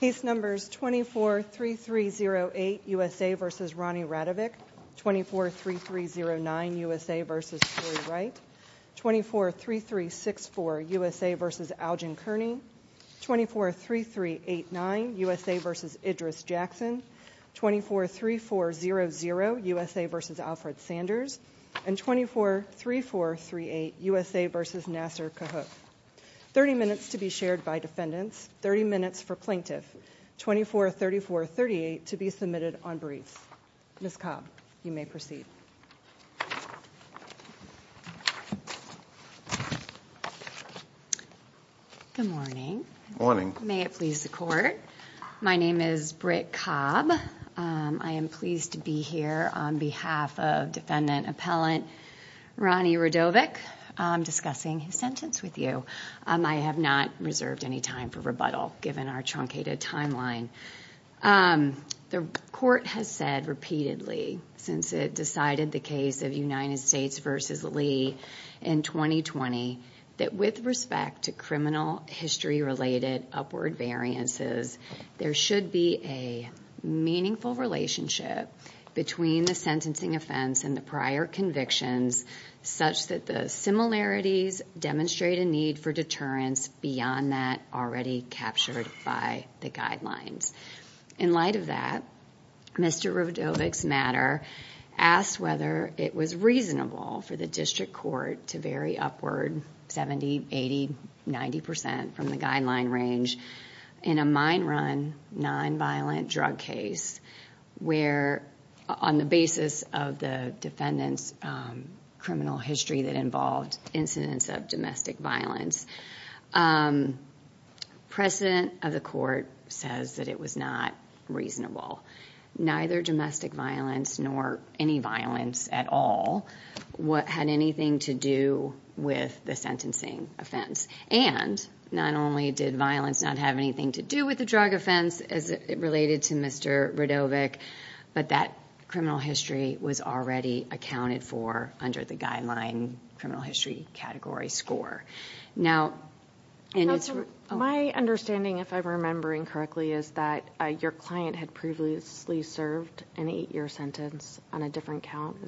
243308 USA v. Ronnie Radovic, 243309 USA v. Corey Wright, 243364 USA v. Algin Kearney, 243389 USA v. Idris Jackson, 243400 USA v. Alfred Sanders, and 243438 USA v. Nassar Kahok. 30 minutes to be shared by defendants, 30 minutes for plaintiff, 243438 to be submitted on briefs. Ms. Cobb, you may proceed. Good morning. Morning. May it please the court, my name is Britt Cobb. I am pleased to be here on behalf of defendant appellant Ronnie Radovic discussing his sentence with you. I have not reserved any time for rebuttal given our truncated timeline. The court has said repeatedly since it decided the case of United States v. Lee in 2020 that with respect to criminal history related upward variances there should be a meaningful relationship between the sentencing offense and the prior convictions such that the similarities demonstrate a need for deterrence beyond that already captured by the guidelines. In light of that, Mr. Radovic's matter asked whether it was reasonable for the district court to vary upward 70, 80, 90 percent from the guideline range in a mine run, nonviolent drug case where on the basis of the defendant's criminal history that involved incidents of domestic violence, precedent of the court says that it was not reasonable. Neither domestic violence nor any violence at all had anything to do with the sentencing offense and not only did violence not have anything to do with the drug offense as it related to Mr. Radovic but that criminal history was already accounted for under the guideline criminal history category score. My understanding, if I'm remembering correctly, is that your client had previously served an eight-year sentence on a different count,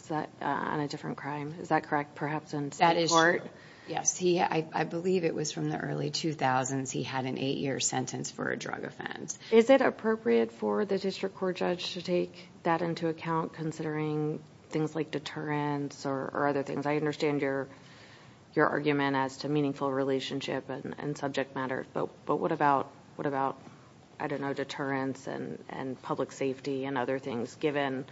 on a different crime. Is that correct, perhaps, in state court? Yes, I believe it was from the early 2000s he had an eight-year sentence for a drug offense. Is it appropriate for the district court judge to take that into account considering things like deterrence or other things? I understand your argument as to meaningful relationship and subject matter but what about, I don't know, deterrence and public safety and other things given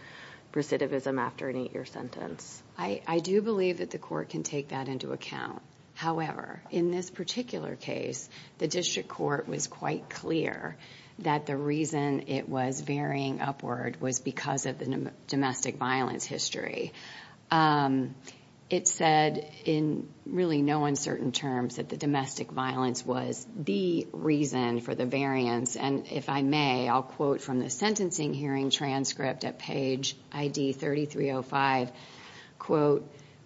recidivism after an eight-year sentence? I do believe that the court can take that into account. However, in this particular case, the district court was quite clear that the reason it was varying upward was because of the domestic violence history. It said in really no uncertain terms that the domestic violence was the reason for the variance and if I may, I'll quote from the sentencing hearing transcript at page ID 3305,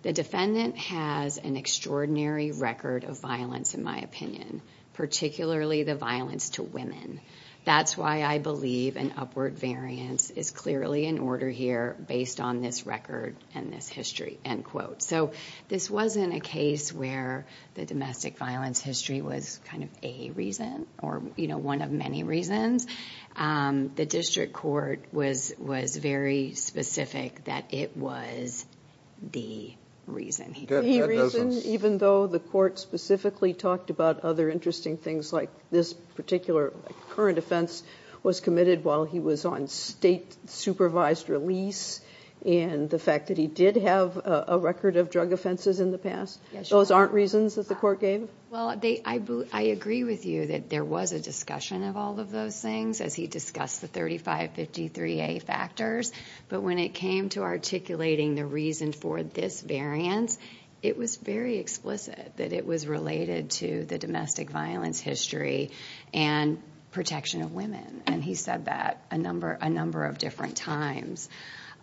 the defendant has an extraordinary record of violence, in my opinion, particularly the violence to women. That's why I believe an upward variance is clearly in order here based on this record and this history. This wasn't a case where the domestic violence history was kind of a reason or one of many reasons. The district court was very specific that it was the reason. The reason, even though the court specifically talked about other interesting things like this particular current offense was committed while he was on state supervised release and the fact that he did have a record of drug offenses in the past, those aren't reasons that the court gave? Well, I agree with you that there was a discussion of all of those things as he discussed the 3553A factors, but when it came to articulating the reason for this variance, it was very explicit that it was related to the domestic violence history and protection of women and he said that a number of different times.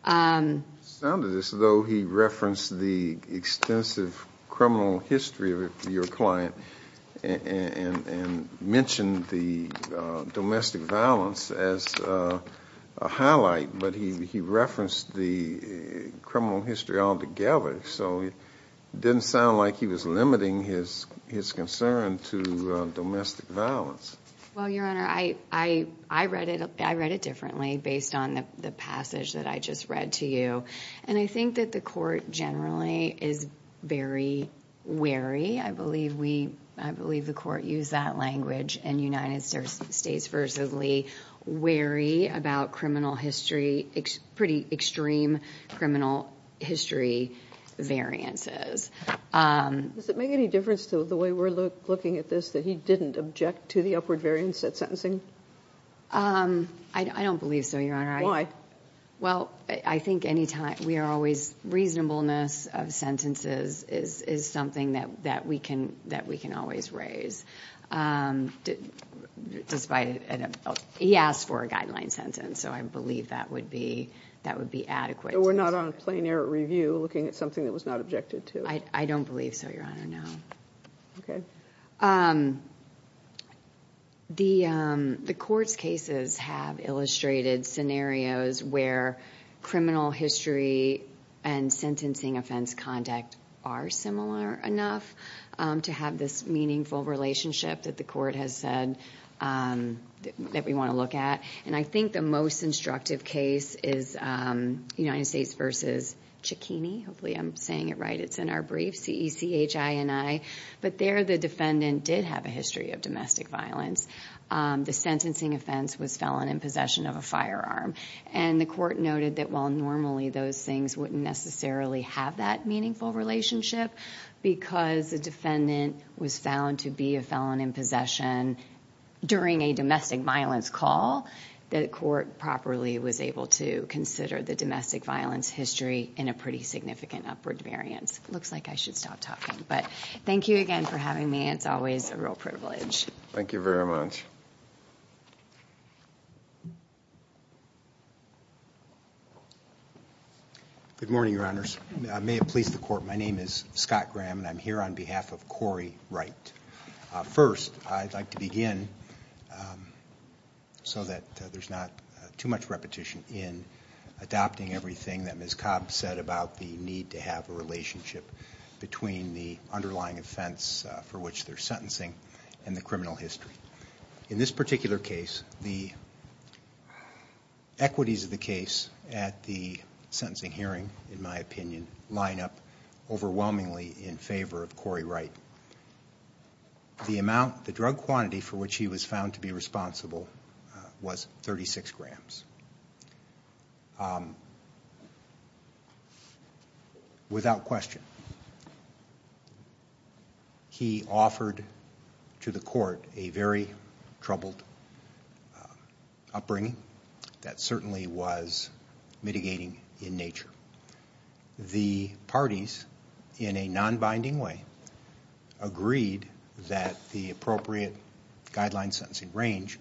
It sounded as though he referenced the extensive criminal history of your client and mentioned the domestic violence as a highlight, but he referenced the criminal history altogether, so it didn't sound like he was limiting his concern to domestic violence. Well, Your Honor, I read it differently based on the passage that I just read to you and I think that the court generally is very wary. I believe the court used that language in United States v. Lee, wary about pretty extreme criminal history variances. Does it make any difference to the way we're looking at this that he didn't object to the upward variance at sentencing? I don't think so. The reasonableness of sentences is something that we can always raise. He asked for a guideline sentence, so I believe that would be adequate. We're not on a plein air review looking at something that was not objected to? I don't believe so, Your Honor. The court's cases have illustrated scenarios where criminal history and sentencing offense conduct are similar enough to have this meaningful relationship that the court has said that we want to look at. I think the most instructive case is United States v. Cicchini. Hopefully I'm saying it right. It's in our brief, C-E-C-H-I-N-I. There, the defendant did have a history of domestic violence. The sentencing offense was felon in possession of a firearm. The court noted that while normally those things wouldn't necessarily have that meaningful relationship, because the defendant was found to be a felon in possession during a domestic violence call, the court properly was able to consider the domestic violence history in a pretty significant upward variance. Looks like I should stop talking, but thank you again for having me. It's always a real privilege. Thank you very much. Good morning, Your Honors. May it please the court, my name is Scott Graham and I'm here on behalf of Corey Wright. First, I'd like to begin so that there's not too much repetition in adopting everything that Ms. Cobb said about the need to have a relationship between the underlying offense for which they're sentencing and the criminal history. In this particular case, the equities of the case at the sentencing hearing, in my opinion, line up overwhelmingly in favor of Corey Wright. The amount, the drug quantity for which he was found to be responsible was 36 grams. Without question, he offered to the court a very troubled upbringing that certainly was mitigating in nature. The parties, in a binding way, agreed that the appropriate guideline sentencing range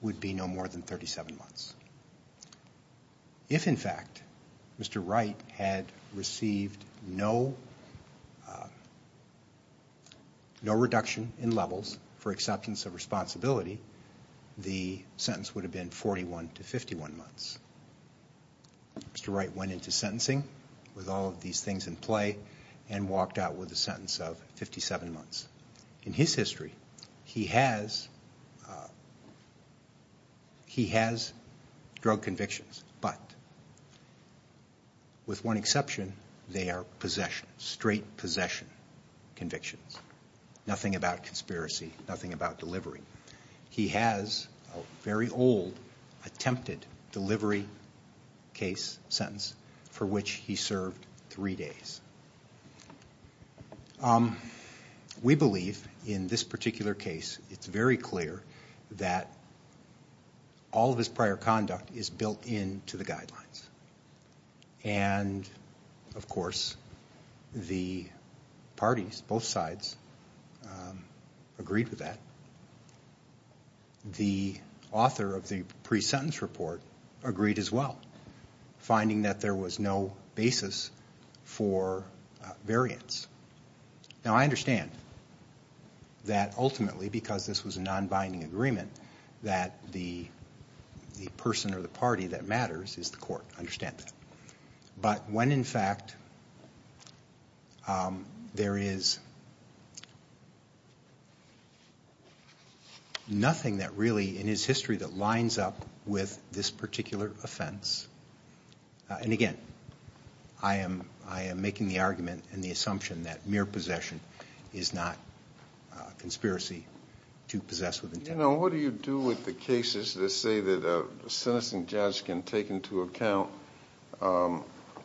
would be no more than 37 months. If, in fact, Mr. Wright had received no reduction in levels for acceptance of responsibility, the sentence would have been 41 to 51 months. Mr. Wright went into sentencing with all of these things in play and walked out with a sentence of 57 months. In his history, he has drug convictions, but with one exception, they are possession, straight possession convictions. Nothing about conspiracy, nothing about delivery. He has a very old attempted delivery case sentence for which he served three days. We believe, in this particular case, it's very clear that all of his prior conduct is built into the guidelines. Of course, the parties, both sides, agreed with that. The author of the pre-sentence report agreed as well, finding that there was no basis for variance. Now, I understand that ultimately, because this was a non-binding agreement, that the person or the party that matters is the court. I understand that. But when, in fact, there is nothing that really, in his history, that lines up with this particular offense, and again, I am making the argument and the assumption that mere possession is not conspiracy to possess with intent. What do you do with the cases that say that a sentencing judge can take into account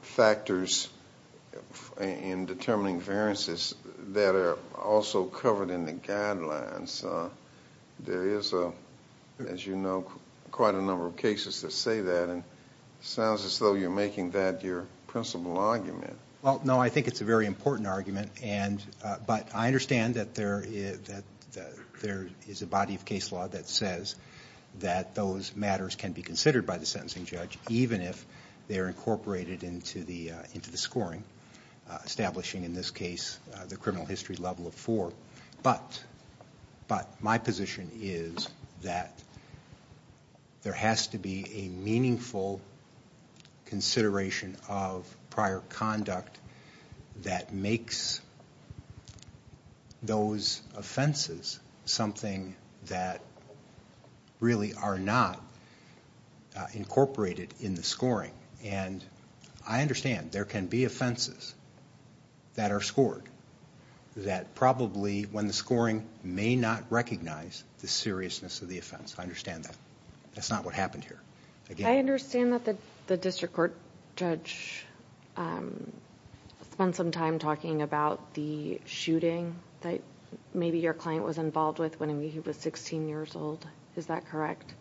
factors in determining variances that are also covered in the guidelines? There is, as you know, quite a number of cases that say that. It sounds as though you're making that your principal argument. Well, no. I think it's a very important argument. But I understand that there is a body of case law that says that those matters can be considered by the sentencing judge, even if they're incorporated into the scoring, establishing, in this case, the criminal history level of four. But my position is that there has to be a meaningful consideration of prior conduct that makes those offenses something that really are not incorporated in the scoring. I understand there can be offenses that are scored that probably, when the scoring may not recognize the seriousness of the offense. I understand that. That's not what happened here. I understand that the district court judge spent some time talking about the shooting that maybe your client was involved with when he was sixteen years old. Is that correct?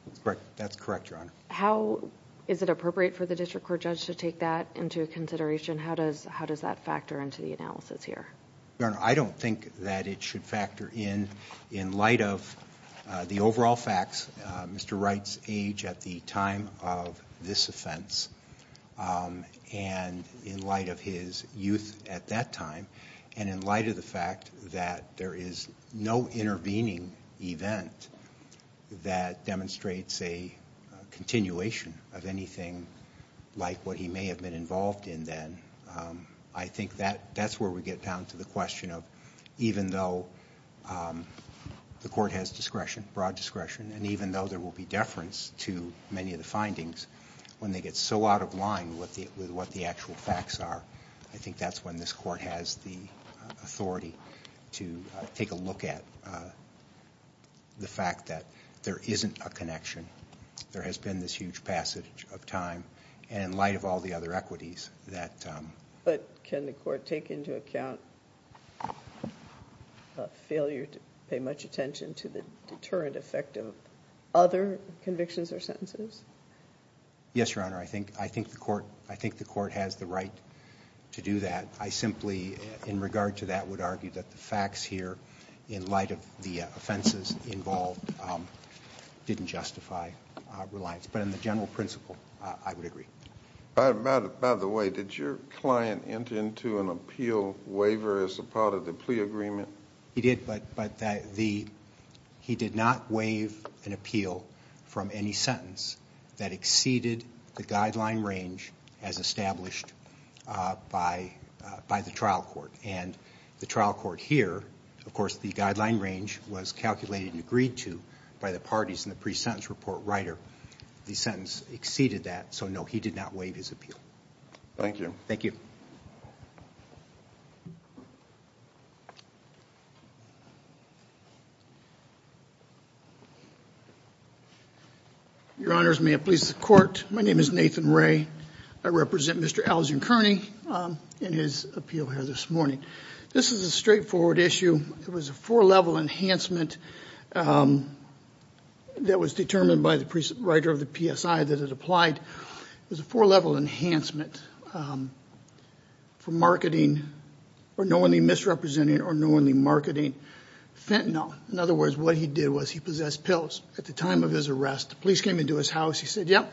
That's correct, Your Honor. How is it appropriate for the district court judge to take that into consideration? How does that factor into the analysis here? Your Honor, I don't think that it should factor in, in light of the overall facts, Mr. Wright's age at the time of this offense, and in light of his youth at that time, and in light of the fact that there is no intervening event that demonstrates a continuation of anything like what he may have been involved in then. I think that's where we get down to the question of, even though the court has discretion, broad discretion, and even though there will be deference to many of the findings, when they get so out of line with what the actual facts are, I think that's when this court has the authority to take a look at the fact that there isn't a connection. There has been this huge passage of time, and in light of all the other equities that... But can the court take into account a failure to pay much attention to the deterrent effect of other convictions or sentences? Yes, Your Honor. I think the court has the right to do that. I simply, in regard to that, would argue that the facts here, in light of the offenses involved, didn't justify reliance. But in the general principle, I would agree. By the way, did your client enter into an appeal waiver as a part of the plea agreement? He did, but he did not waive an appeal from any sentence that exceeded the guideline range as established by the trial court. And the trial court here, of course, the guideline range was calculated and agreed to by the parties in the pre-sentence report writer. The sentence exceeded that, so no, he did not waive his appeal. Thank you. Your Honors, may it please the court. My name is Nathan Ray. I represent Mr. Algern Kearney in his appeal here this morning. This is a straightforward issue. It was a four-level enhancement that was determined by the writer of the PSI that it applied. It was a four-level enhancement for marketing or knowingly misrepresenting or knowingly marketing fentanyl. In other words, what he did was he possessed pills. At the time of his arrest, the police came into his house. He said, yep,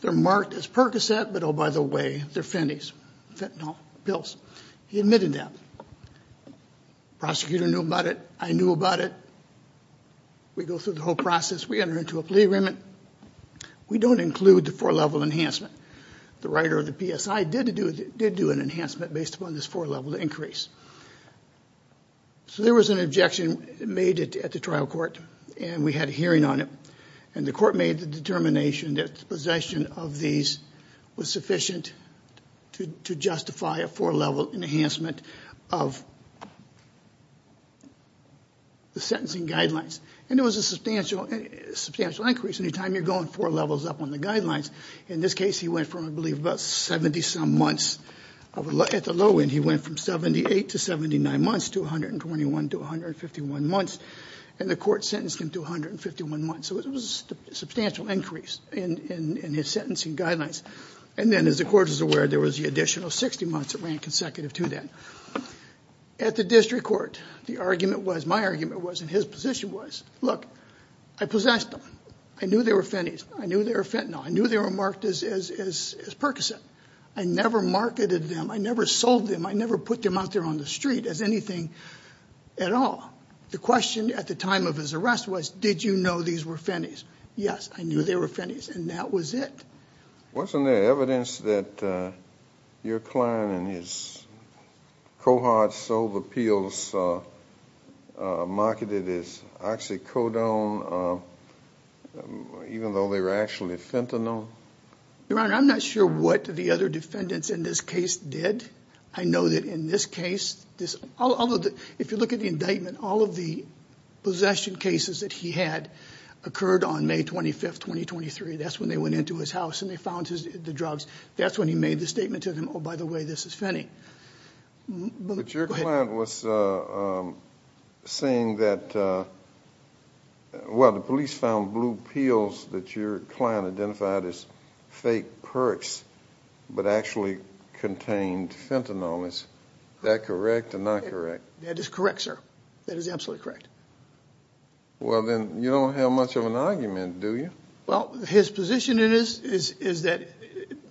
they're marked as Percocet, but oh, by the way, they're fentanyl pills. He admitted that. The prosecutor knew about it. I knew about it. We go through the whole process. We enter into a plea agreement. We don't include the four-level enhancement. The writer of the PSI did do an enhancement based upon this four-level increase. So there was an objection made at the trial court, and we had a hearing on it. And the court made the determination that the possession of these was sufficient to justify a four-level enhancement of the sentencing guidelines. And it was a substantial increase. Anytime you're going four levels up on the guidelines. In this case, he went from, I believe, about 70-some months. At the low end, he went from 78 to 79 months, to 121 to 151 months. And the court sentenced him to 151 months. So it was a substantial increase in his sentencing guidelines. And then, as the court was aware, there was the additional 60 months that ran consecutive to that. At the district court, the argument was, my argument was, and his position was, look, I possessed them. I knew they were fennies. I knew they were fentanyl. I knew they were marked as Percocet. I never marketed them. I never sold them. I never put them out there on the street as anything at all. The question at the time of his arrest was, did you know these were fennies? Yes, I knew they were fennies. And that was it. Wasn't there evidence that your client and his cohort sold the pills, marketed as oxycodone, even though they were actually fentanyl? Your Honor, I'm not sure what the other defendants in this case did. I know that in this case, if you look at the indictment, all of the possession cases that he had occurred on May 25th, 2023. That's when they went into his house and they found the drugs. That's when he made the statement to them, oh, by the way, this is fenny. But your client was saying that, well, the police found blue pills that your client identified as fake Percs, but actually contained fentanyl. Is that correct or not correct? That is correct, sir. That is absolutely correct. Well, then you don't have much of an argument, do you? Well, his position is that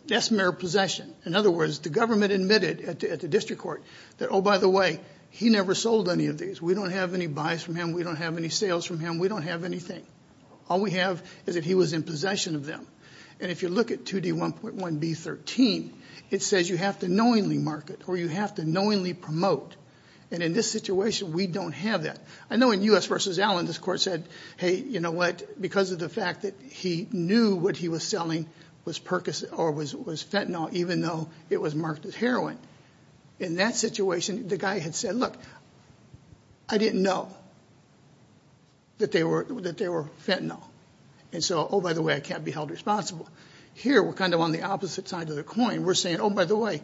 that's mere possession. In other words, the government admitted at the district court that, oh, by the way, he never sold any of these. We don't have any buys from him. We don't have any sales from him. We don't have anything. All we have is that he was in possession of them. And if you look at 2D1.1B13, it says you have to knowingly market or you have to knowingly promote. And in this situation, we don't have that. I know in U.S. v. Allen, this court said, hey, you know what, because of the fact that he knew what he was selling was Percs or was fentanyl, even though it was marked as heroin. In that situation, the guy had said, look, I didn't know that they were fentanyl. And so, oh, by the way, I can't be held responsible. Here, we're kind of on the opposite side of the coin. We're saying, oh, by the way,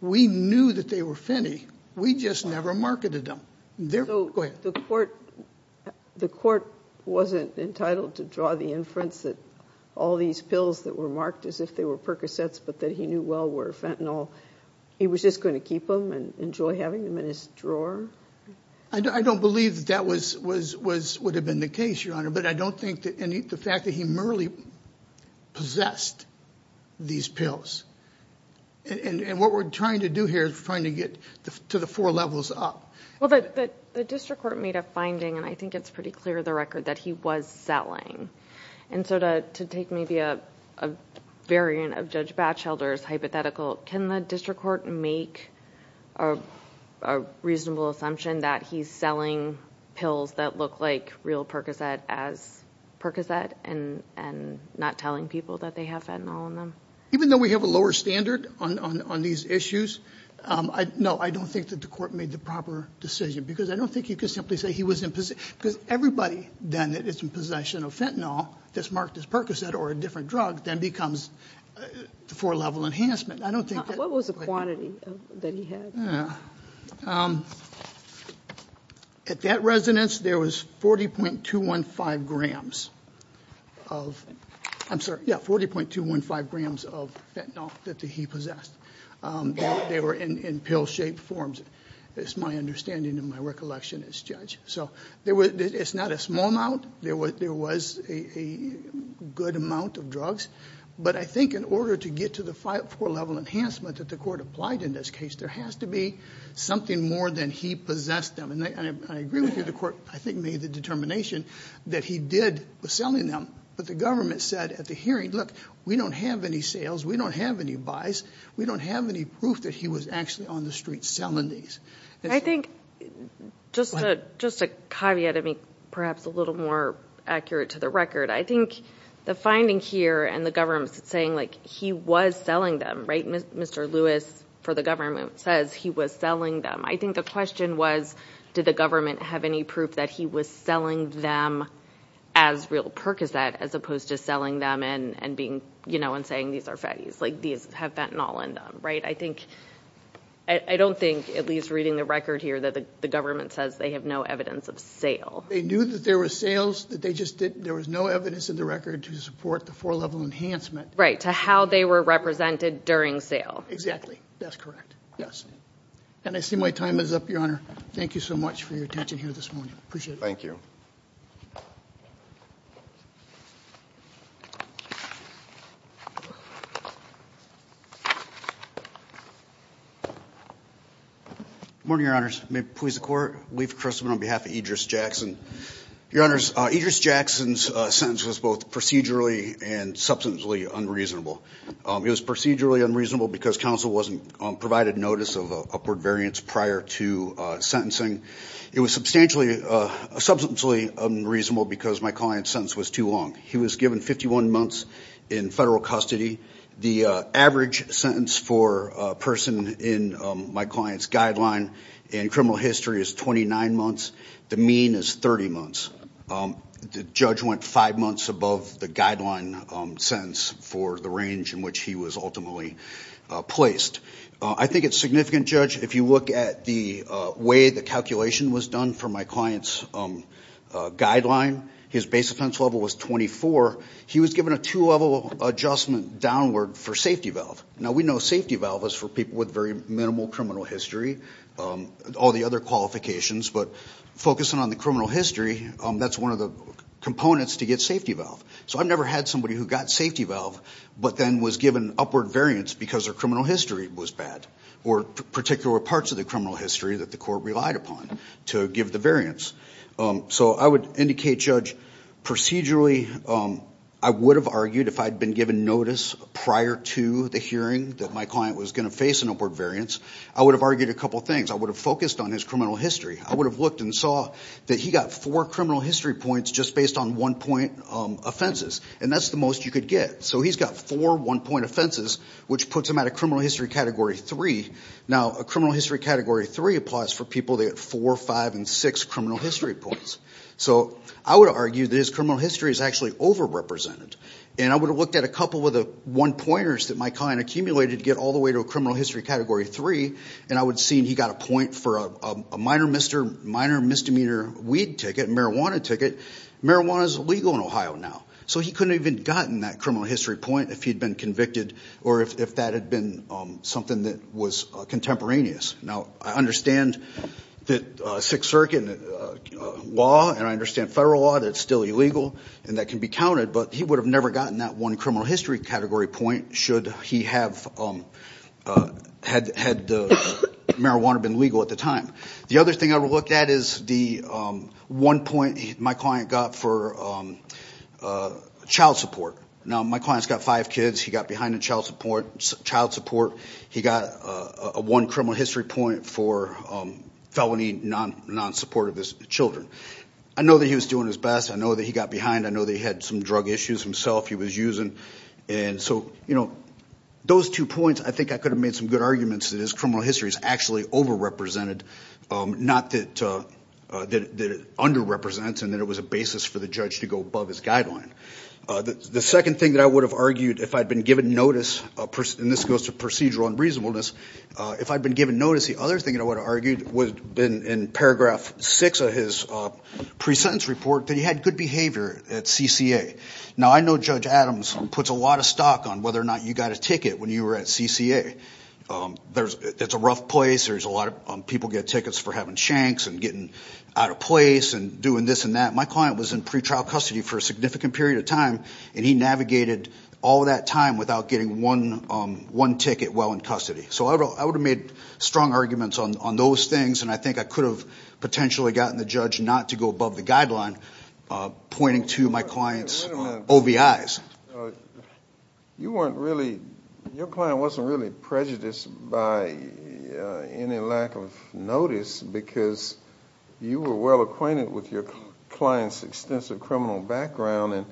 we knew that they were fentanyl. We just never marketed them. Go ahead. The court wasn't entitled to draw the inference that all these pills that were marked as if they were Percocets but that he knew well were fentanyl. He was just going to keep them and enjoy having them in his drawer? I don't believe that that would have been the case, Your Honor. But I don't think that any of the fact that he merely possessed these pills. And what we're trying to do here is we're trying to get to the four levels up. Well, but the district court made a finding, and I think it's pretty clear the record, that he was selling. And so to take maybe a variant of Judge Batchelder's hypothetical, can the district court make a reasonable assumption that he's selling pills that look like real Percocet as Percocet and not telling people that they have fentanyl in them? Even though we have a lower standard on these issues, no, I don't think that the court made the proper decision. Because I don't think you can simply say he was in possession. Because everybody then that is in possession of fentanyl that's marked as Percocet or a different drug then becomes the four-level enhancement. I don't think that... What was the quantity that he had? At that resonance, there was 40.215 grams of, I'm sorry, yeah, 40.215 grams of fentanyl that he possessed. They were in pill-shaped forms. It's my understanding and my recollection as judge. So it's not a small amount. There was a good amount of drugs. But I think in order to get to the four-level enhancement that the court applied in this case, there has to be something more than he possessed them. And I agree with you. The court, I think, made the determination that he did, was selling them. But the government said at the hearing, look, we don't have any sales. We don't have any buys. We don't have any proof that he was actually on the street selling these. I think, just a caveat, I mean, perhaps a little more accurate to the record. I think the finding here and the government saying, like, he was selling them, right? Mr. Lewis, for the government, says he was selling them. I think the question was, did the government have any proof that he was selling them as real Percocet as opposed to selling them and being, you know, and saying these are fatties, like these have fentanyl in them, right? I think, I don't think, at least reading the record here, that the government says they have no evidence of sale. They knew that there were sales, that they just didn't, there was no evidence in the record to support the four-level enhancement. Right, to how they were represented during sale. Exactly, that's correct. Yes, and I see my time is up, Your Honor. Thank you so much for your attention here this morning. Appreciate it. Thank you. Good morning, Your Honors. May it please the Court, Leif Christman on behalf of Idris Jackson. Your Honors, Idris Jackson's sentence was both procedurally and substantially unreasonable. It was procedurally unreasonable because counsel wasn't provided notice of upward variance prior to sentencing. It was substantially unreasonable because my client's sentence was too long. He was given 51 months in federal custody. The average sentence for a person in my client's guideline in criminal history is 29 months. The mean is 30 months. The judge went five months above the guideline sentence for the range in which he was ultimately placed. I think it's significant, Judge, if you look at the way the calculation was done for my client's guideline. His base offense level was 24. He was given a two-level adjustment downward for safety valve. Now, we know safety valve is for people with very minimal criminal history, all the other qualifications, but focusing on the criminal history, that's one of the components to get safety valve. So I've never had somebody who got safety valve but then was given upward variance because their criminal history was bad or particular parts of the criminal history that the court relied upon to give the variance. So I would indicate, Judge, procedurally I would have argued if I'd been given notice prior to the hearing that my client was going to face an upward variance, I would have argued a couple things. I would have focused on his criminal history. I would have looked and saw that he got four criminal history points just based on one-point offenses, and that's the most you could get. So he's got four one-point offenses, which puts him at a criminal history Category 3. Now, a criminal history Category 3 applies for people that get four, five, and six criminal history points. So I would argue that his criminal history is actually over-represented, and I would have looked at a couple of the one-pointers that my client accumulated to get all the way to a criminal history Category 3, and I would have seen he got a point for a minor misdemeanor weed ticket, marijuana ticket. Marijuana is illegal in Ohio now. So he couldn't have even gotten that criminal history point if he'd been convicted or if that had been something that was contemporaneous. Now, I understand that Sixth Circuit law, and I understand federal law, that it's still illegal and that can be counted, but he would have never gotten that one criminal history Category point should he have had marijuana been legal at the time. The other thing I would look at is the one point my client got for child support. Now, my client's got five kids. He got behind in child support. He got a one criminal history point for felony non-support of his children. I know that he was doing his best. I know that he got behind. I know they had some drug issues himself he was using, and so, you know, those two points I think I could have made some good arguments that his criminal history is actually over-represented, not that it under-represents and that it was a basis for the judge to go above his guideline. The second thing that I would have argued if I'd been given notice, and this goes to procedural and reasonableness, if I'd been given notice, the other thing I would have argued would have been in paragraph 6 of his pre-sentence report that he had good behavior at CCA. Now, I know Judge Adams puts a lot of stock on whether or not you got a ticket when you were at CCA. It's a rough place. There's a lot of people get tickets for having shanks and getting out of place and doing this and that. My client was in pretrial custody for a significant period of time, and he navigated all that time without getting one ticket while in custody, so I would have made strong arguments on those things, and I think I could have potentially gotten the judge not to go above the guideline, pointing to my client's OBIs. You weren't really, your client wasn't really prejudiced by any lack of notice because you were well-acquainted with your client's extensive criminal background, and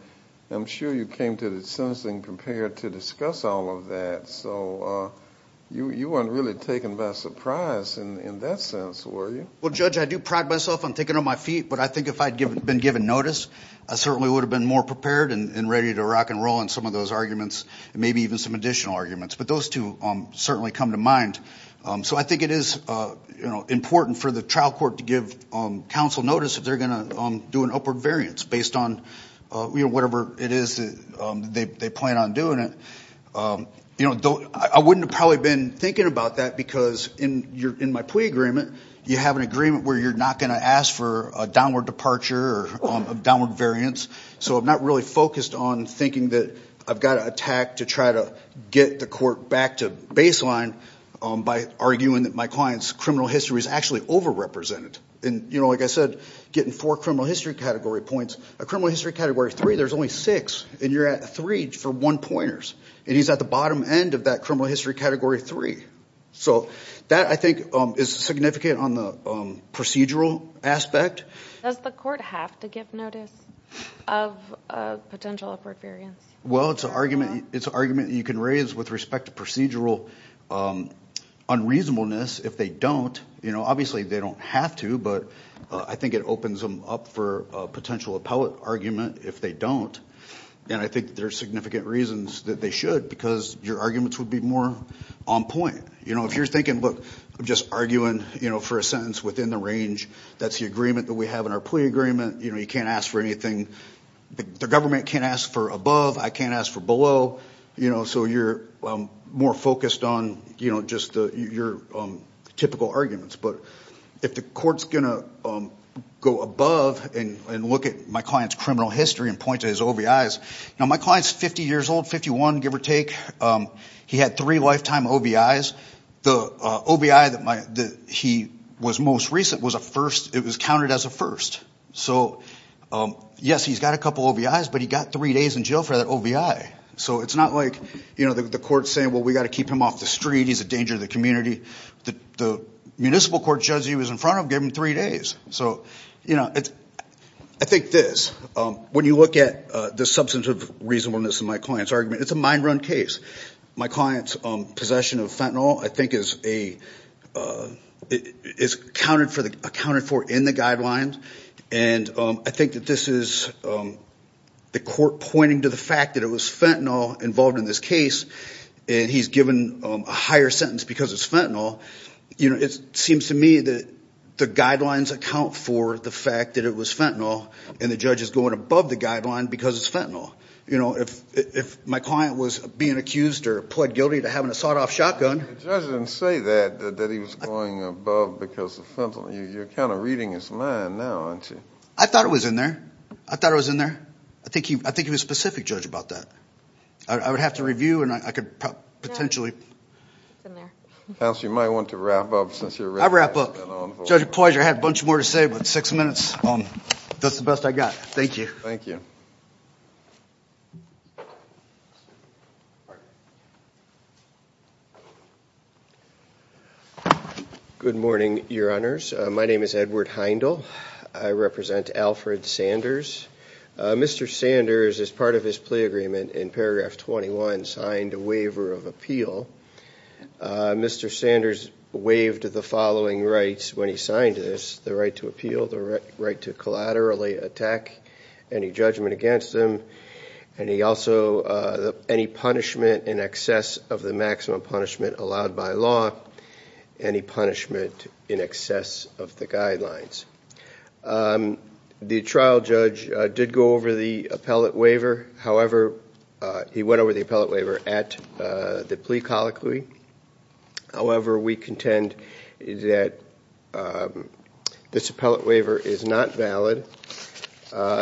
I'm sure you came to the sentencing prepared to discuss all of that, so you weren't really taken by surprise in that sense, were you? Well, Judge, I do pride myself on taking on my feet, but I think if I'd been given notice, I certainly would have been more prepared and ready to rock and roll on some of those arguments, and maybe even some additional arguments, but those two certainly come to mind. So I think it is important for the trial court to give counsel notice if they're going to do an upward variance based on whatever it is they plan on doing it. You know, I wouldn't have probably been thinking about that because in my plea agreement, you have an agreement where you're not going to ask for a downward departure or downward variance, so I'm not really focused on thinking that I've got to attack to try to get the court back to baseline by arguing that my client's criminal history is actually over-represented, and you know, like I said, getting four criminal history category points. A criminal history category three, there's only six, and you're at three for one-pointers, and he's at the bottom end of that criminal history category three. So that, I think, is significant on the procedural aspect. Does the court have to give notice of potential upward variance? Well, it's an argument you can raise with respect to procedural unreasonableness if they don't. You know, it opens them up for a potential appellate argument if they don't, and I think there are significant reasons that they should, because your arguments would be more on point. You know, if you're thinking, look, I'm just arguing, you know, for a sentence within the range, that's the agreement that we have in our plea agreement, you know, you can't ask for anything. The government can't ask for above, I can't ask for below, you know, so you're more focused on, you know, just your typical arguments. But if the court's gonna go above and look at my client's criminal history and point to his OBIs, now my client's 50 years old, 51, give or take. He had three lifetime OBIs. The OBI that he was most recent was a first. It was counted as a first. So yes, he's got a couple OBIs, but he got three days in jail for that OBI. So it's not like, you know, the court's saying, well, we got to keep him off the street, he's a danger to the community. The municipal court judge he was in front of gave him three days. So, you know, I think this, when you look at the substance of reasonableness in my client's argument, it's a mind-run case. My client's possession of fentanyl, I think, is accounted for in the guidelines, and I think that this is the court pointing to the fact that it was fentanyl involved in this case, and he's given a higher sentence because it's fentanyl. You know, it seems to me that the guidelines account for the fact that it was fentanyl, and the judge is going above the guideline because it's fentanyl. You know, if my client was being accused or pled guilty to having a sawed-off shotgun... The judge didn't say that, that he was going above because of fentanyl. You're kind of reading his mind now, aren't you? I thought it was in there. I thought it was in there. I think he was specific, Judge, about that. I would have to review, and I could potentially... Counsel, you might want to wrap up. I'll wrap up. Judge, I had a bunch more to say, but six minutes. That's the best I got. Thank you. Thank you. Good morning, Your Honors. My name is Edward Heindel. I represent Alfred Sanders. Mr. Sanders, as part of his plea agreement in paragraph 21, signed a waiver of appeal. Mr. Sanders waived the following rights when he signed this. The right to appeal, the right to collaterally attack any judgment against him, and he also... any punishment in excess of the maximum punishment allowed by law, any punishment in excess of the guidelines. The trial judge did go over the appellate waiver. However, he went over the appellate waiver at the plea colloquy. However, we contend that this appellate waiver is not valid.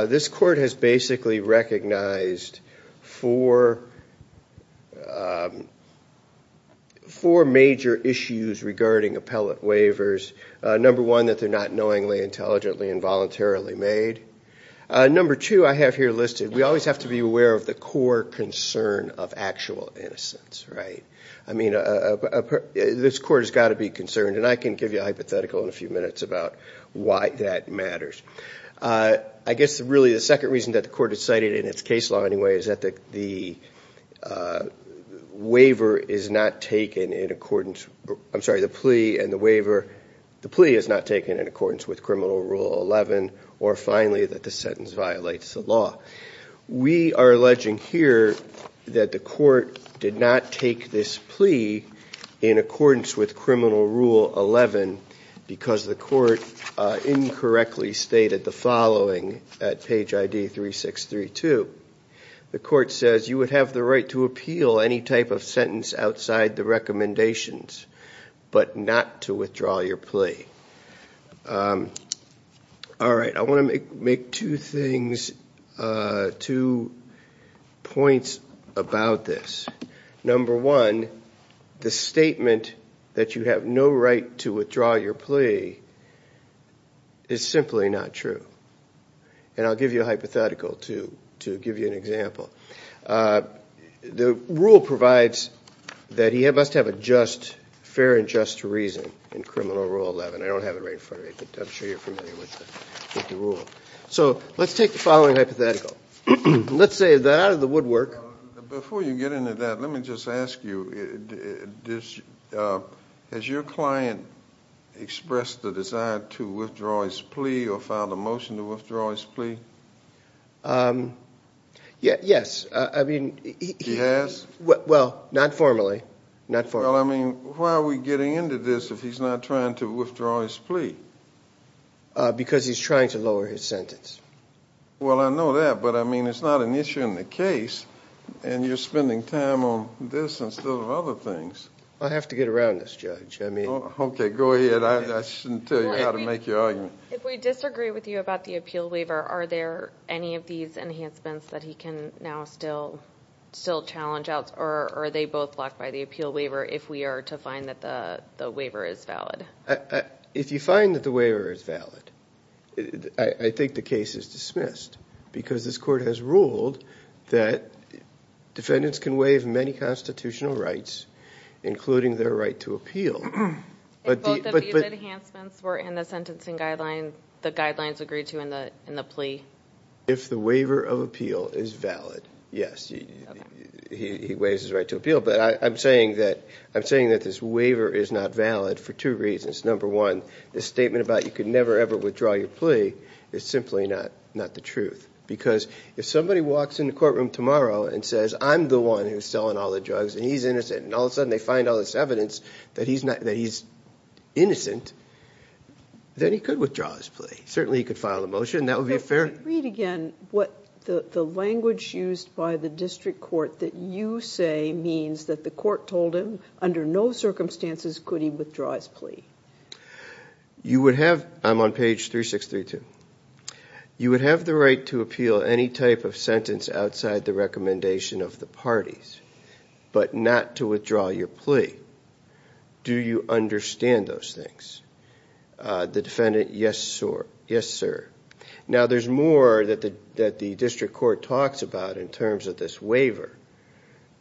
This has four major issues regarding appellate waivers. Number one, that they're not knowingly, intelligently, and voluntarily made. Number two, I have here listed, we always have to be aware of the core concern of actual innocence, right? I mean, this court has got to be concerned, and I can give you a hypothetical in a few minutes about why that matters. I guess, really, the second reason that the court has cited in its case law, anyway, is that the waiver is not taken in accordance... I'm sorry, the plea and the waiver... the plea is not taken in accordance with Criminal Rule 11, or finally, that the sentence violates the law. We are alleging here that the court did not take this plea in accordance with Criminal Rule 11 because the court incorrectly stated the following at page ID 3632. The court says you would have the right to appeal any type of sentence outside the recommendations, but not to withdraw your plea. All right, I want to make two things, two points about this. Number one, the statement that you have no right to withdraw your plea is simply not true, and I'll give you a hypothetical to give you an example. The rule provides that he must have a just, fair and just reason in Criminal Rule 11. I don't have it right in front of me, but I'm sure you're familiar with the rule. So, let's take the following hypothetical. Let's say that out of the woodwork... Before you get into that, let me just ask you, has your client expressed the desire to withdraw his plea or filed a motion to withdraw his plea? Yes, I mean... He has? Well, not formally, not formally. Well, I mean, why are we getting into this if he's not trying to withdraw his plea? Because he's trying to lower his sentence. Well, I know that, but I mean, it's not an issue in the case, and you're spending time on this instead of other things. I have to get around this, Judge. I mean... Okay, go ahead. I shouldn't tell you how to make your argument. If we disagree with you about the appeal waiver, are there any of these enhancements that he can now still still challenge out, or are they both blocked by the appeal waiver if we are to find that the waiver is valid? If you find that the waiver is valid, I think the case is dismissed, because this court has ruled that defendants can waive many constitutional rights, including their right to appeal. If both of these enhancements were in the sentencing guidelines, the guidelines agree to in the plea? If the waiver of appeal is valid, yes. He waives his right to appeal, but I'm saying that this waiver is not valid for two reasons. Number one, the statement about you could never ever withdraw your plea is simply not the truth, because if somebody walks in the courtroom tomorrow and says, I'm the one who's selling all the drugs and he's innocent, and all of a sudden they find all this evidence that he's innocent, then he could withdraw his plea. Certainly he could file a motion, that would be a fair... Read again what the language used by the District Court that you say means that the court told him under no circumstances could he I'm on page 3632. You would have the right to appeal any type of sentence outside the recommendation of the parties, but not to withdraw your plea. Do you understand those things? The defendant, yes sir. Yes sir. Now there's more that the District Court talks about in terms of this waiver,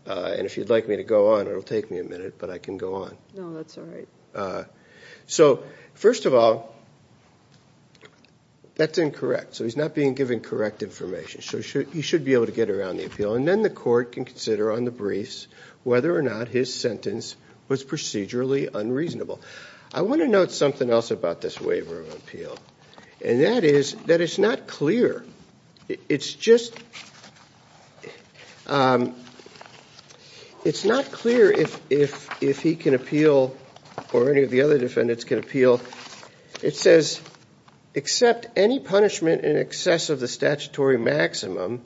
and if you'd like me to go on, it'll take me a minute, but I can go on. No, that's all right. So first of all, that's incorrect. So he's not being given correct information. So he should be able to get around the appeal, and then the court can consider on the briefs whether or not his sentence was procedurally unreasonable. I want to note something else about this waiver of appeal, and that is that it's not clear. It's just, it's not clear if he can appeal, or any of the other defendants can appeal. It says, except any punishment in excess of the statutory maximum,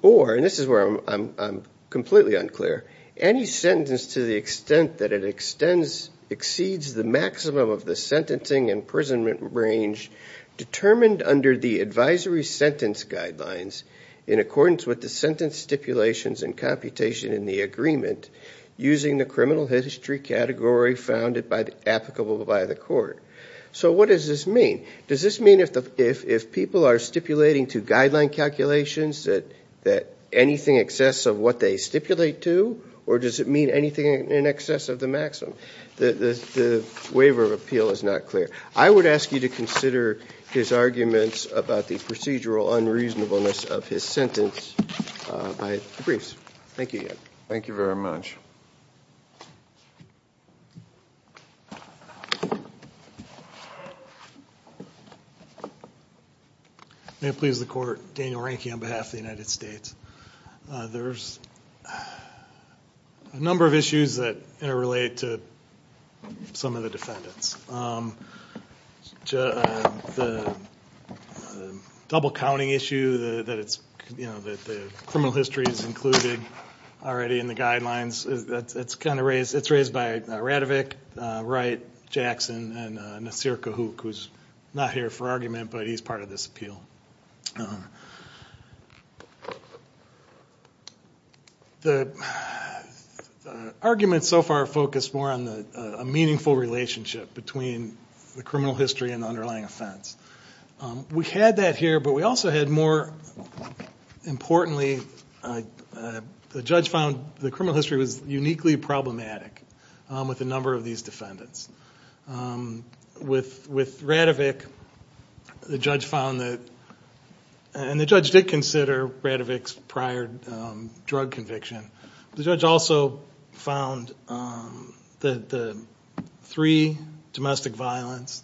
or, and this is where I'm completely unclear, any sentence to the extent that it extends, exceeds the maximum of the sentencing imprisonment range, determined under the advisory sentence guidelines, in accordance with the sentence stipulations and computation in the agreement, using the criminal history category found applicable by the court. So what does this mean? Does this mean if people are stipulating to guideline calculations that anything excess of what they stipulate to, or does it mean anything in excess of the maximum? The waiver of appeal is not clear. I would ask you to consider his arguments about the procedural unreasonableness of his sentence by the briefs. Thank you. Thank you very much. May it please the court, Daniel Ranke on behalf of the United States. There's a number of issues that interrelate to some of the defendants. The double counting issue that it's, you know, that the criminal history is included already in the guidelines, it's kind of raised, it's raised by Radovich, Wright, Jackson, and Nasir Kahook, who's not here for argument, but he's part of this appeal. The arguments so far focus more on the meaningful relationship between the criminal history and underlying offense. We had that here, but we also had more importantly, the judge found the criminal history was uniquely problematic with a number of these defendants. With Radovich, the judge found that, and the judge did consider Radovich's prior drug conviction, the judge also found that the three domestic violence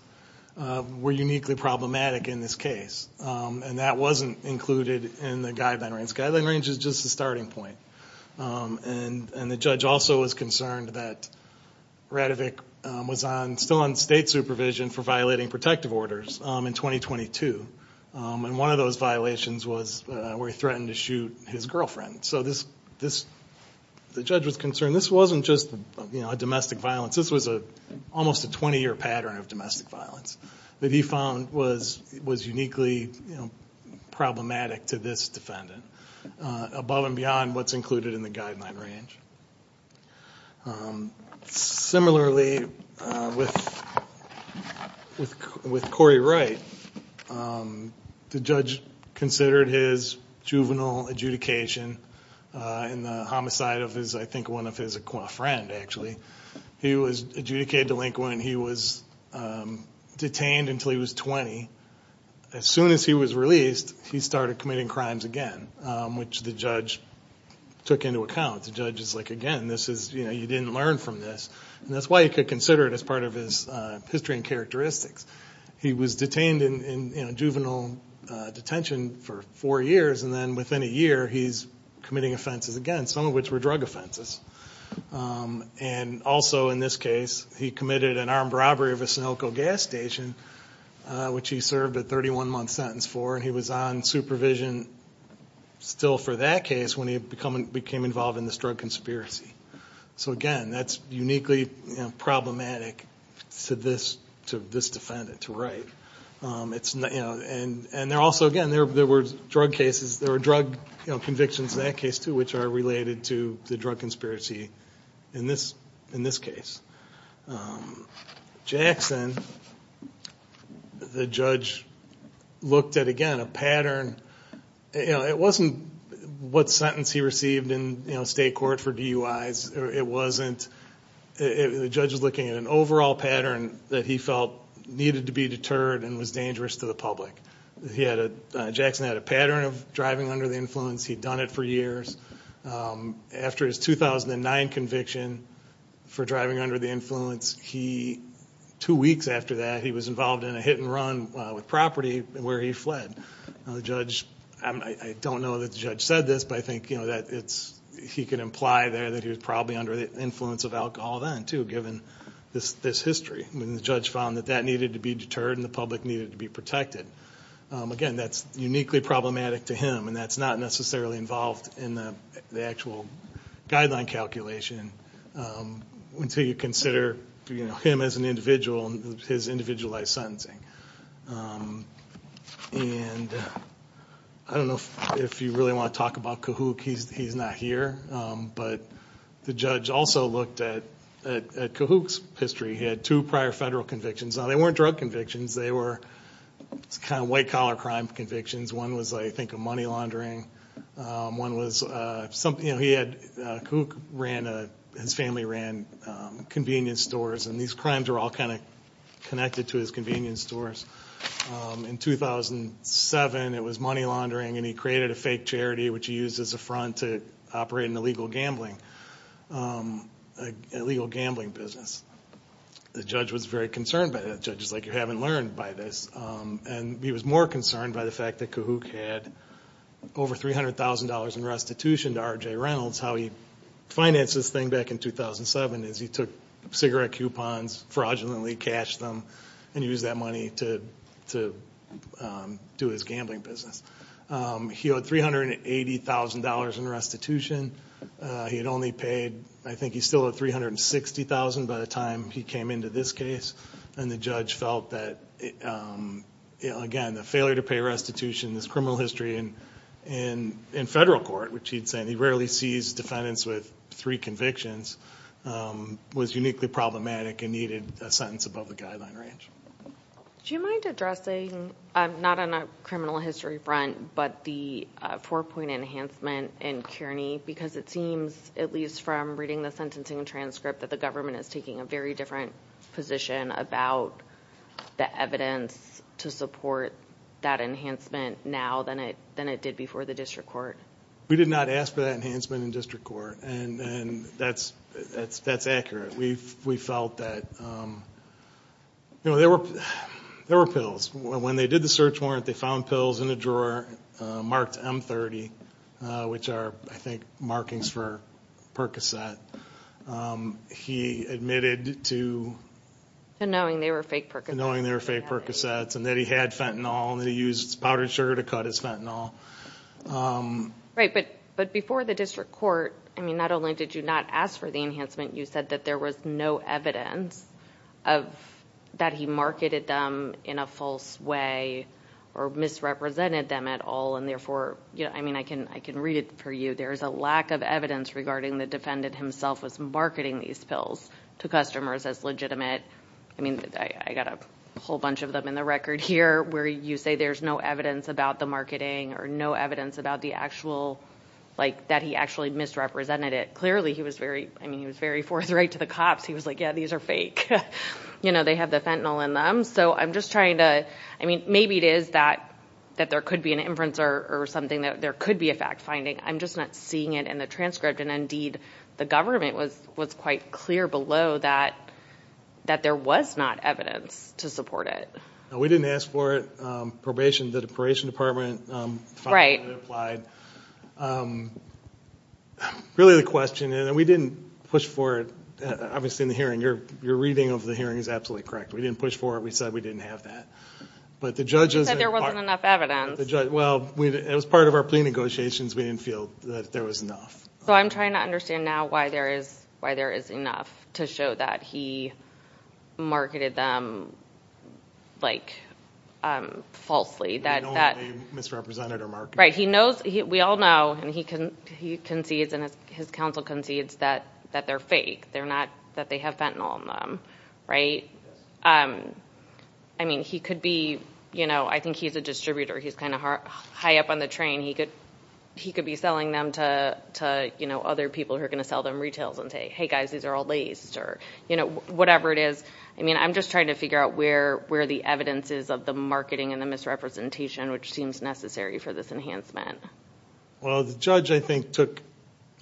were uniquely problematic in this case, and that wasn't included in the guideline range. The guideline range is just the starting point, and the judge also was concerned that Radovich was still on state supervision for violating protective orders in 2022, and one of those violations was where he threatened to shoot his girlfriend. So this, the judge was concerned this wasn't just a domestic violence, this was almost a 20-year pattern of domestic violence that he found was uniquely problematic to this defendant, above and beyond what's included in the guideline range. Similarly, with Corey Wright, the judge considered his juvenile adjudication in the homicide of his, I think, one of his acqua friend, actually. He was adjudicated delinquent, he was detained until he was 20. As soon as he was released, he started committing crimes again, which the judge took into account. The judge is like, again, this is, you know, you didn't learn from this, and that's why he could consider it as part of his history and characteristics. He was detained in juvenile detention for four years, and then within a year, he's committing offenses again, some of which were drug offenses. And also, in this case, he committed an armed robbery of a Sunilco gas station, which he served a 31-month sentence for, and he was on supervision still for that case when he became involved in this drug conspiracy. So again, that's uniquely problematic to this defendant, to Wright. And there also, again, there were drug cases, there were drug convictions in that case too, which are related to the drug conspiracy in this case. Jackson, the judge looked at, again, a pattern. You know, it wasn't what sentence he received in, you know, state court for DUIs. It wasn't. The judge was looking at an overall pattern that he felt needed to be deterred and was dangerous to the public. He had a, Jackson had a pattern of driving under the influence. He'd done it for years. After his 2009 conviction for driving under the influence, he, two weeks after that, he was involved in a hit-and-run with property where he fled. Now the judge, I don't know that the judge said this, but I think, you know, that it's, he could imply there that he was probably under the influence of alcohol then too, given this history. When the judge found that that needed to be deterred and the public needed to be protected. Again, that's uniquely problematic to him, and that's not necessarily involved in the actual guideline calculation until you consider, you know, him as an individual and his individualized sentencing. And I don't know if you really want to talk about Kahook. He's not here, but the judge also looked at Kahook's history. He had two prior federal convictions. Now they weren't drug convictions. They were kind of white-collar crime convictions. One was, I think, a money laundering. One was something, you know, he had, Kahook ran a, his family ran convenience stores, and these crimes are all kind of connected to his convenience stores. In 2007, it was money laundering, and he created a fake charity, which he used as a front to operate an illegal gambling, an illegal gambling business. The judge was very concerned by that. The judge was like, you haven't learned by this. And he was more concerned by the fact that Kahook had over $300,000 in restitution to R.J. Reynolds, how he financed this thing back in 2007, as he took cigarette coupons, fraudulently cashed them, and used that money to do his gambling business. He owed $380,000 in restitution. He had only paid, I think he still owed $360,000 by the time he came into this case, and the judge felt that, again, the failure to pay restitution, this criminal history, and in federal court, which he'd said he rarely sees defendants with three convictions, was uniquely problematic and needed a sentence above the guideline range. Do you mind addressing, not on a criminal history front, but the four-point enhancement in Kearney? Because it seems, at least from reading the sentencing transcript, that the government is taking a very different position about the evidence to support that enhancement now than it did before the district court. We did not ask for that enhancement in district court, and that's accurate. We felt that there were pills. When they did the search warrant, they found pills in a drawer marked M30, which are, I think, markings for Percocet. He admitted to knowing they were fake Percocets, and that he had fentanyl, and he used powdered sugar to cut his fentanyl. Right, but before the district court, not only did you not ask for the enhancement, you said that there was no evidence that he marketed them in a false way or misrepresented them at all, and therefore, I can read it for you, there's a lack of evidence regarding the defendant himself was marketing these pills to customers as legitimate. I got a whole bunch of them in the record here, where you say there's no evidence about the marketing or no evidence that he actually misrepresented it. Clearly, he was very forthright to the cops. He was like, yeah, these are fake. They have the fentanyl in them. Maybe it is that there could be an inference or something that there could be a fact-finding. I'm just not seeing it in the transcript, and indeed, the government was quite clear below that there was not evidence to support it. We didn't ask for it. The probation department applied. Really, the question, and we didn't push for it. Obviously, in the hearing, your reading of the hearing is absolutely correct. We didn't push for it. We said we didn't have that, but the judges... You said there wasn't enough evidence. Well, it was part of our plea negotiations. We didn't feel that there was enough. So I'm trying to understand now why there is enough to show that he marketed them falsely. That he misrepresented our marketing. Right. We all know, and he concedes, and his counsel concedes that they're fake, that they have fentanyl in them. I think he's a distributor. He's kind of high up on the train. He could be selling them to other people who are going to sell them retails and say, hey, guys, these are all laced, or whatever it is. I'm just trying to figure out where the evidence is of the marketing and the misrepresentation, which seems necessary for this enhancement. Well, the judge, I think, took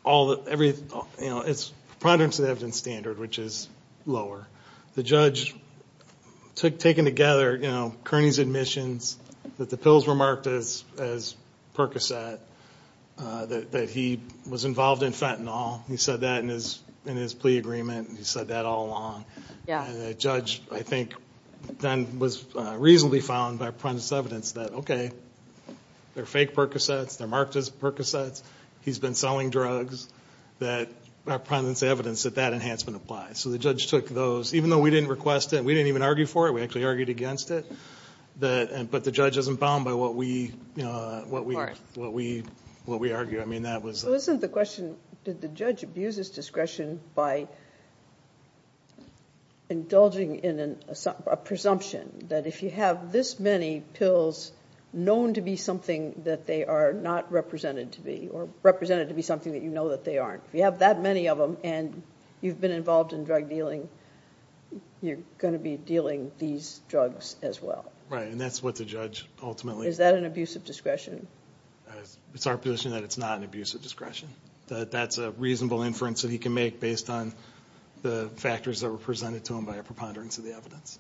all the... It's proprietary to the evidence standard, which is lower. The judge took, taken together, Kearney's admissions, that the pills were marked as Percocet, that he was involved in fentanyl. He said that in his plea agreement. He said that all along. The judge, I think, then was reasonably found by pretense evidence that, okay, they're fake Percocets, they're marked as Percocets, he's been selling drugs, that our pretense evidence that that enhancement applies. So the judge took those, even though we didn't request it, we didn't even argue for it, we actually argued against it, but the judge isn't bound by what we argue. So isn't the question, did the judge abuse his discretion by indulging in a presumption that if you have this many pills known to be something that they are not represented to be, or represented to be something that you know that they aren't, if you have that many of them and you've been involved in drug dealing, you're going to be dealing these drugs as well? Right, and that's what the judge ultimately... Is that an abuse of discretion? It's our position that it's not an abuse of discretion. That's a reasonable inference that he can make based on the factors that were presented to him by a preponderance of the evidence.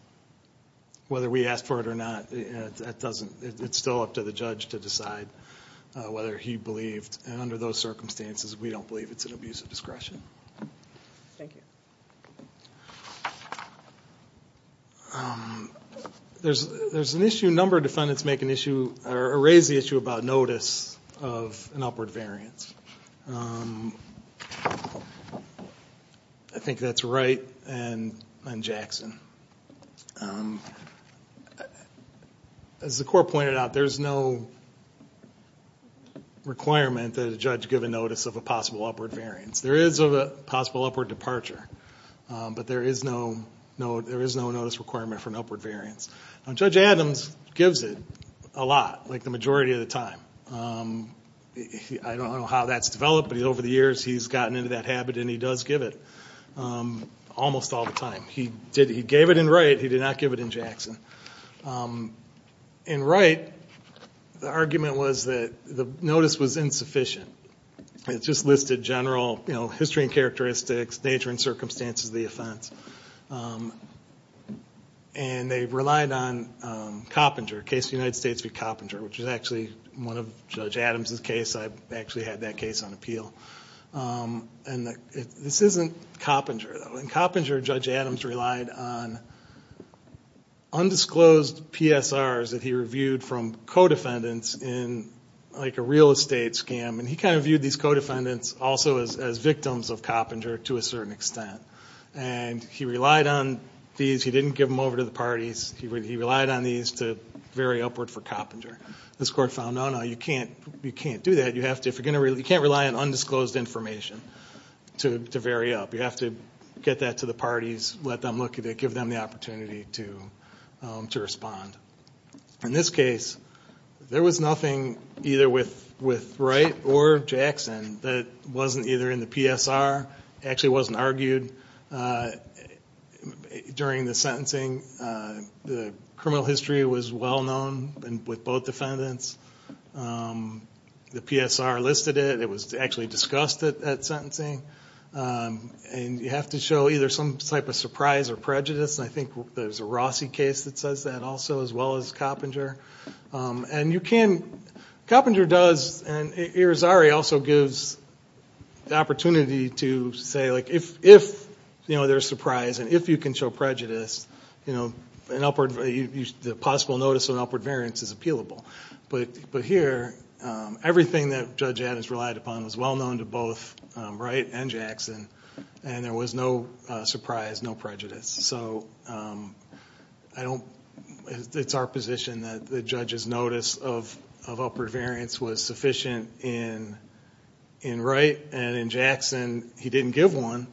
Whether we asked for it or not, it's still up to the judge to decide whether he believed, and under those circumstances, we don't believe it's an abuse of discretion. Thank you. There's an issue, a number of defendants make an issue, or raise the issue about notice of an upward variance. I think that's Wright and Jackson. As the court pointed out, there's no requirement that a judge give a notice of a possible upward variance. There is a possible upward departure, but there is no notice requirement for an upward variance. Judge Adams gives it a lot, like the majority of the time. I don't know how that's developed, but over the years, he's gotten into that habit and he does give it almost all the time. He gave it in Wright, he did not give it in Jackson. In Wright, the argument was that the notice was insufficient. It just listed general history and characteristics, nature and circumstances of the offense. They relied on Coppinger, a case of the United States v. Coppinger, which is actually one of Judge Adams' cases. I actually had that case on appeal. This isn't Coppinger, though. In Coppinger, Judge Adams relied on undisclosed PSRs that he reviewed from co-defendants in a real estate scam. He viewed these co-defendants also as victims of Coppinger, to a certain extent. He relied on these. He didn't give them over to the parties. He relied on these to vary upward for Coppinger. This court found, no, no, you can't do that. You can't rely on undisclosed information to vary up. You have to get that to the parties, let them look at it, give them the opportunity to respond. In this case, there was nothing either with Wright or Jackson that wasn't either in the PSR. It actually wasn't argued during the sentencing. The criminal history was well known with both defendants. The PSR listed it. It was actually discussed at sentencing. You have to show either some type of surprise or prejudice. I think there's a Rossi case that says that also, as well as Coppinger. Coppinger does, and Irizarry also gives the opportunity to say, if there's surprise and if you can show prejudice, the possible notice of an upward variance is appealable. But here, everything that Judge Adams relied upon was well known to both Wright and Jackson. There was no surprise, no prejudice. It's our position that the judge's notice of upward variance was sufficient in Wright, and in Jackson, he didn't give one,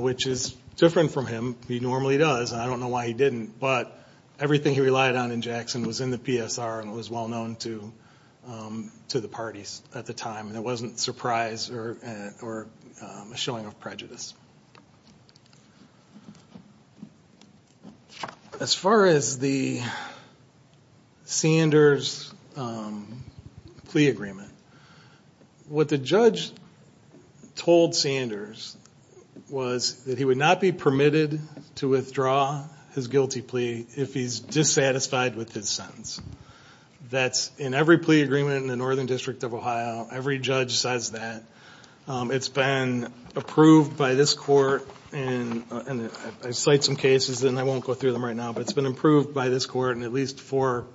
which is different from him. He normally does, and I don't know why he didn't. But everything he relied on in Jackson was in the PSR, and it was well known to the parties at the time. And it wasn't surprise or a showing of prejudice. As far as the Sanders plea agreement, what the judge told Sanders was that he would not be permitted to withdraw his guilty plea if he's dissatisfied with his sentence. That's in every plea agreement in the Northern District of Ohio. Every judge says that. It's been approved by this court, and I cite some cases, and I won't go through them right now, but it's been approved by this court in at least four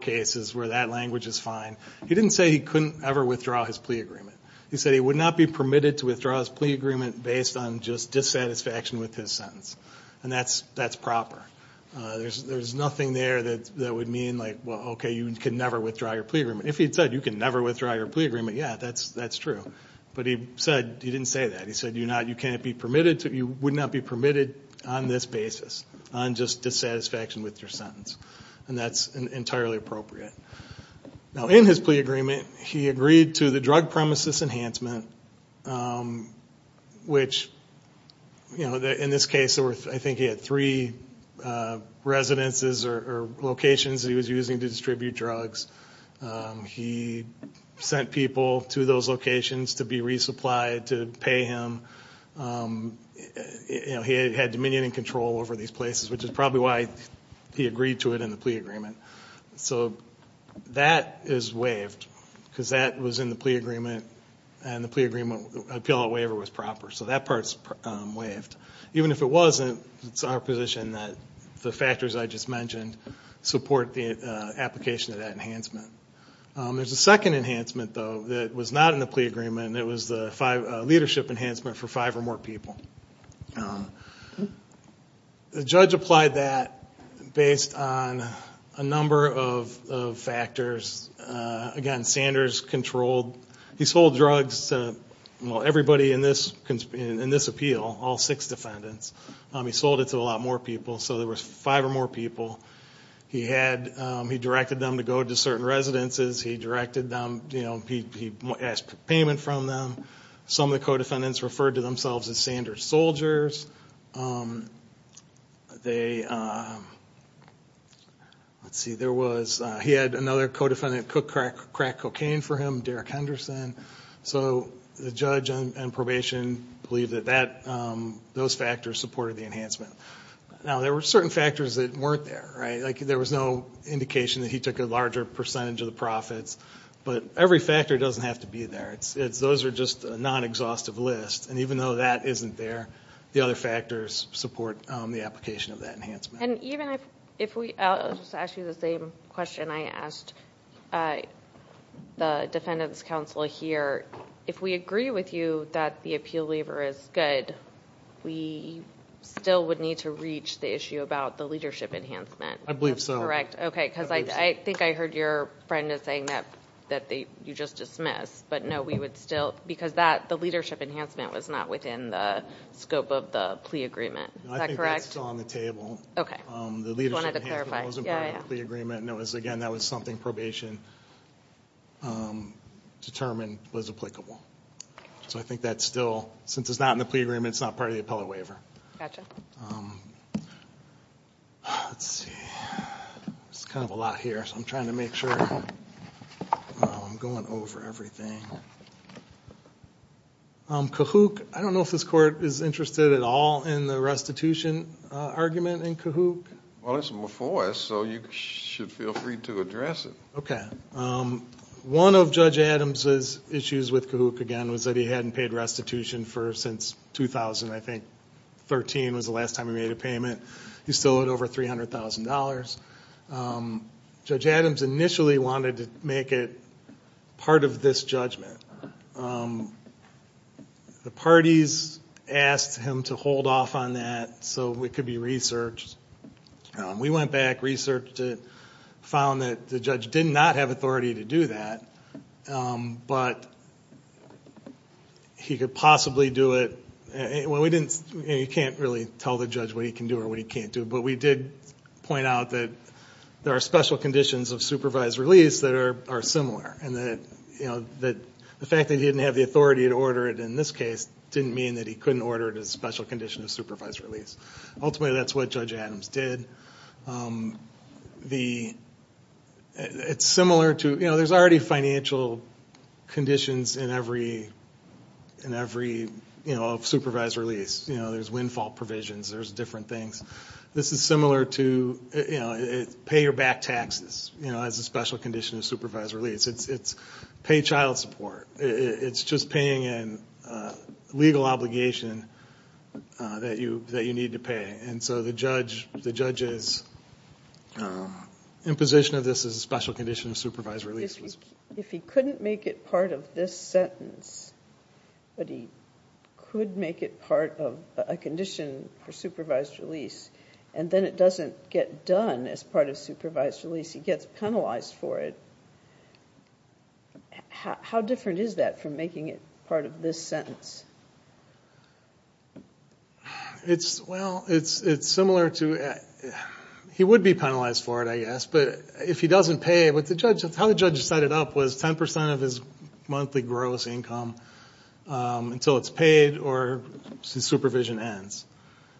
cases where that language is fine. He didn't say he couldn't ever withdraw his plea agreement. He said he would not be permitted to withdraw his plea agreement based on just dissatisfaction with his sentence, and that's proper. There's nothing there that would mean like, well, okay, you can never withdraw your plea agreement. If he'd said, you can never withdraw your plea agreement, yeah, that's true. But he didn't say that. He said, you cannot be permitted to... You would not be permitted on this basis, on just dissatisfaction with your sentence, and that's entirely appropriate. Now, in his plea agreement, he agreed to the drug premises enhancement, which in this case, I think he had three residences or locations that he was using to distribute drugs. He sent people to those locations to be resupplied, to pay him. He had dominion and control over these places, which is probably why he agreed to it in the plea agreement. So that is waived, because that was in the plea agreement, and the plea agreement, the appeal out waiver was proper. So that part's waived. Even if it wasn't, it's our position that the factors I just mentioned support the application of that enhancement. There's a second enhancement, though, that was not in the plea agreement, and it was the leadership enhancement for five or more people. The judge applied that based on a number of factors. Again, Sanders controlled... He sold drugs to, well, everybody in this appeal, all six defendants. He sold it to a lot more people, so there were five or more people. He directed them to go to certain residences. He directed them... He asked for payment from them. Some of the co defendants referred to themselves as Sanders soldiers. Let's see, there was... He had another co defendant who could crack cocaine for him, Derek Henderson. So the judge on probation believed that those factors supported the enhancement. Now, there were certain factors that weren't there. There was no indication that he took a larger percentage of the profits, but every factor doesn't have to be there. Those are just a non exhaustive list, and even though that isn't there, the other factors support the application of that enhancement. And even if we... I'll just ask you the same question I asked the defendants counsel here. If we agree with you that the appeal waiver is good, we still would need to reach the issue about the leadership enhancement. I believe so. That's correct. Okay, because I think I heard your friend is saying that you just dismissed, but no, we would still... Because the leadership enhancement was not within the scope of the plea agreement. Is that correct? I think that's still on the table. The leadership enhancement wasn't part of the plea agreement, and it was, again, that was something probation and determination determined was applicable. So I think that's still... Since it's not in the plea agreement, it's not part of the appellate waiver. Gotcha. Let's see. It's kind of a lot here, so I'm trying to make sure I'm going over everything. Kahuk, I don't know if this court is interested at all in the restitution argument in Kahuk. Well, it's before us, so you should feel free to address it. Okay. One of Judge Adams' issues with Kahuk, again, was that he hadn't paid restitution for since 2000, I think. 13 was the last time he made a payment. He still owed over $300,000. Judge Adams initially wanted to make it part of this judgment. The parties asked him to hold off on that so it could be researched. We went back, researched it, found that the judge did not have authority to do that, but he could possibly do it... Well, we didn't... You can't really tell the judge what he can do or what he can't do, but we did point out that there are special conditions of supervised release that are similar, and that the fact that he didn't have the authority to order it in this case didn't mean that he couldn't order it as a special condition of supervised release. Ultimately, that's what Judge Adams did. It's similar to... There's already financial conditions in every supervised release. There's windfall provisions, there's different things. This is similar to pay your back taxes as a special condition of supervised release. It's pay child support. It's just paying in legal obligation that you need to pay. And so the judge's imposition of this as a special condition of supervised release was... If he couldn't make it part of this sentence, but he could make it part of a condition for supervised release, and then it doesn't get done as part of supervised release, he gets penalized for it. How different is that from making it part of this sentence? Well, it's similar to... He would be penalized for it, I guess, but if he doesn't pay... How the judge set it up was 10% of his monthly gross income until it's paid or his supervision ends.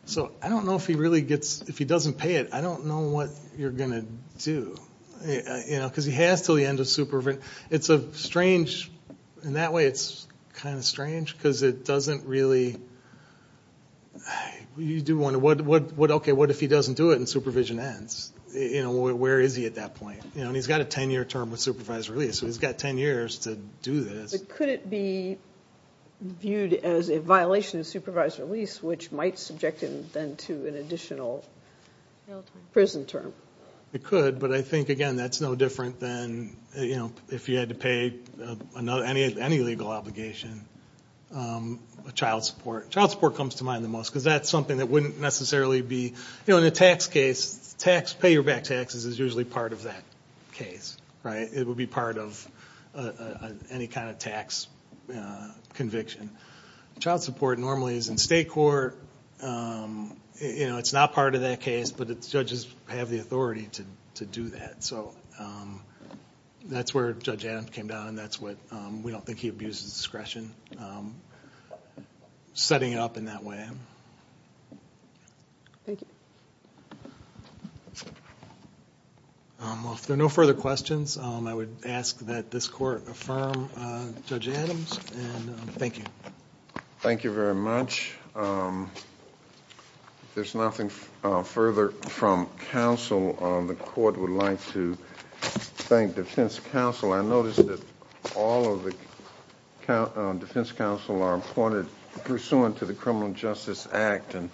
So I don't know if he really gets... If he doesn't pay it, I don't know what you're gonna do. Because he has till the end of supervision. It's a strange... In that way, it's kind of strange, because it doesn't really... You do wonder, okay, what if he doesn't do it and supervision ends? Where is he at that point? And he's got a 10 year term with supervised release, so he's got 10 years to do this. But could it be viewed as a violation of supervised release, which might subject him then to an additional prison term? It could, but I think, again, that's no different than if you had to pay any legal obligation, child support. Child support comes to mind the most, because that's something that wouldn't necessarily be... In a tax case, pay your back taxes is usually part of that case, right? It would be part of any kind of tax conviction. Child support normally is in state court. It's not part of that case, but judges have the authority to do that. So that's where Judge Adams came down, and that's what... We don't think he abuses discretion, setting it up in that way. Thank you. Well, if there are no further questions, I would ask that this court affirm Judge Adams, and thank you. Thank you very much. There's nothing further from counsel. The court would like to thank Defense Counsel. I noticed that all of the Defense Counsel are appointed pursuant to the Criminal Justice Act, and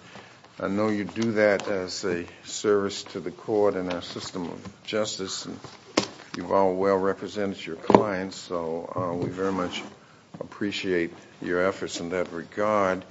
I know you do that as a service to the court and our system of justice, and you've all well represented your clients, so we very much appreciate your efforts in that regard.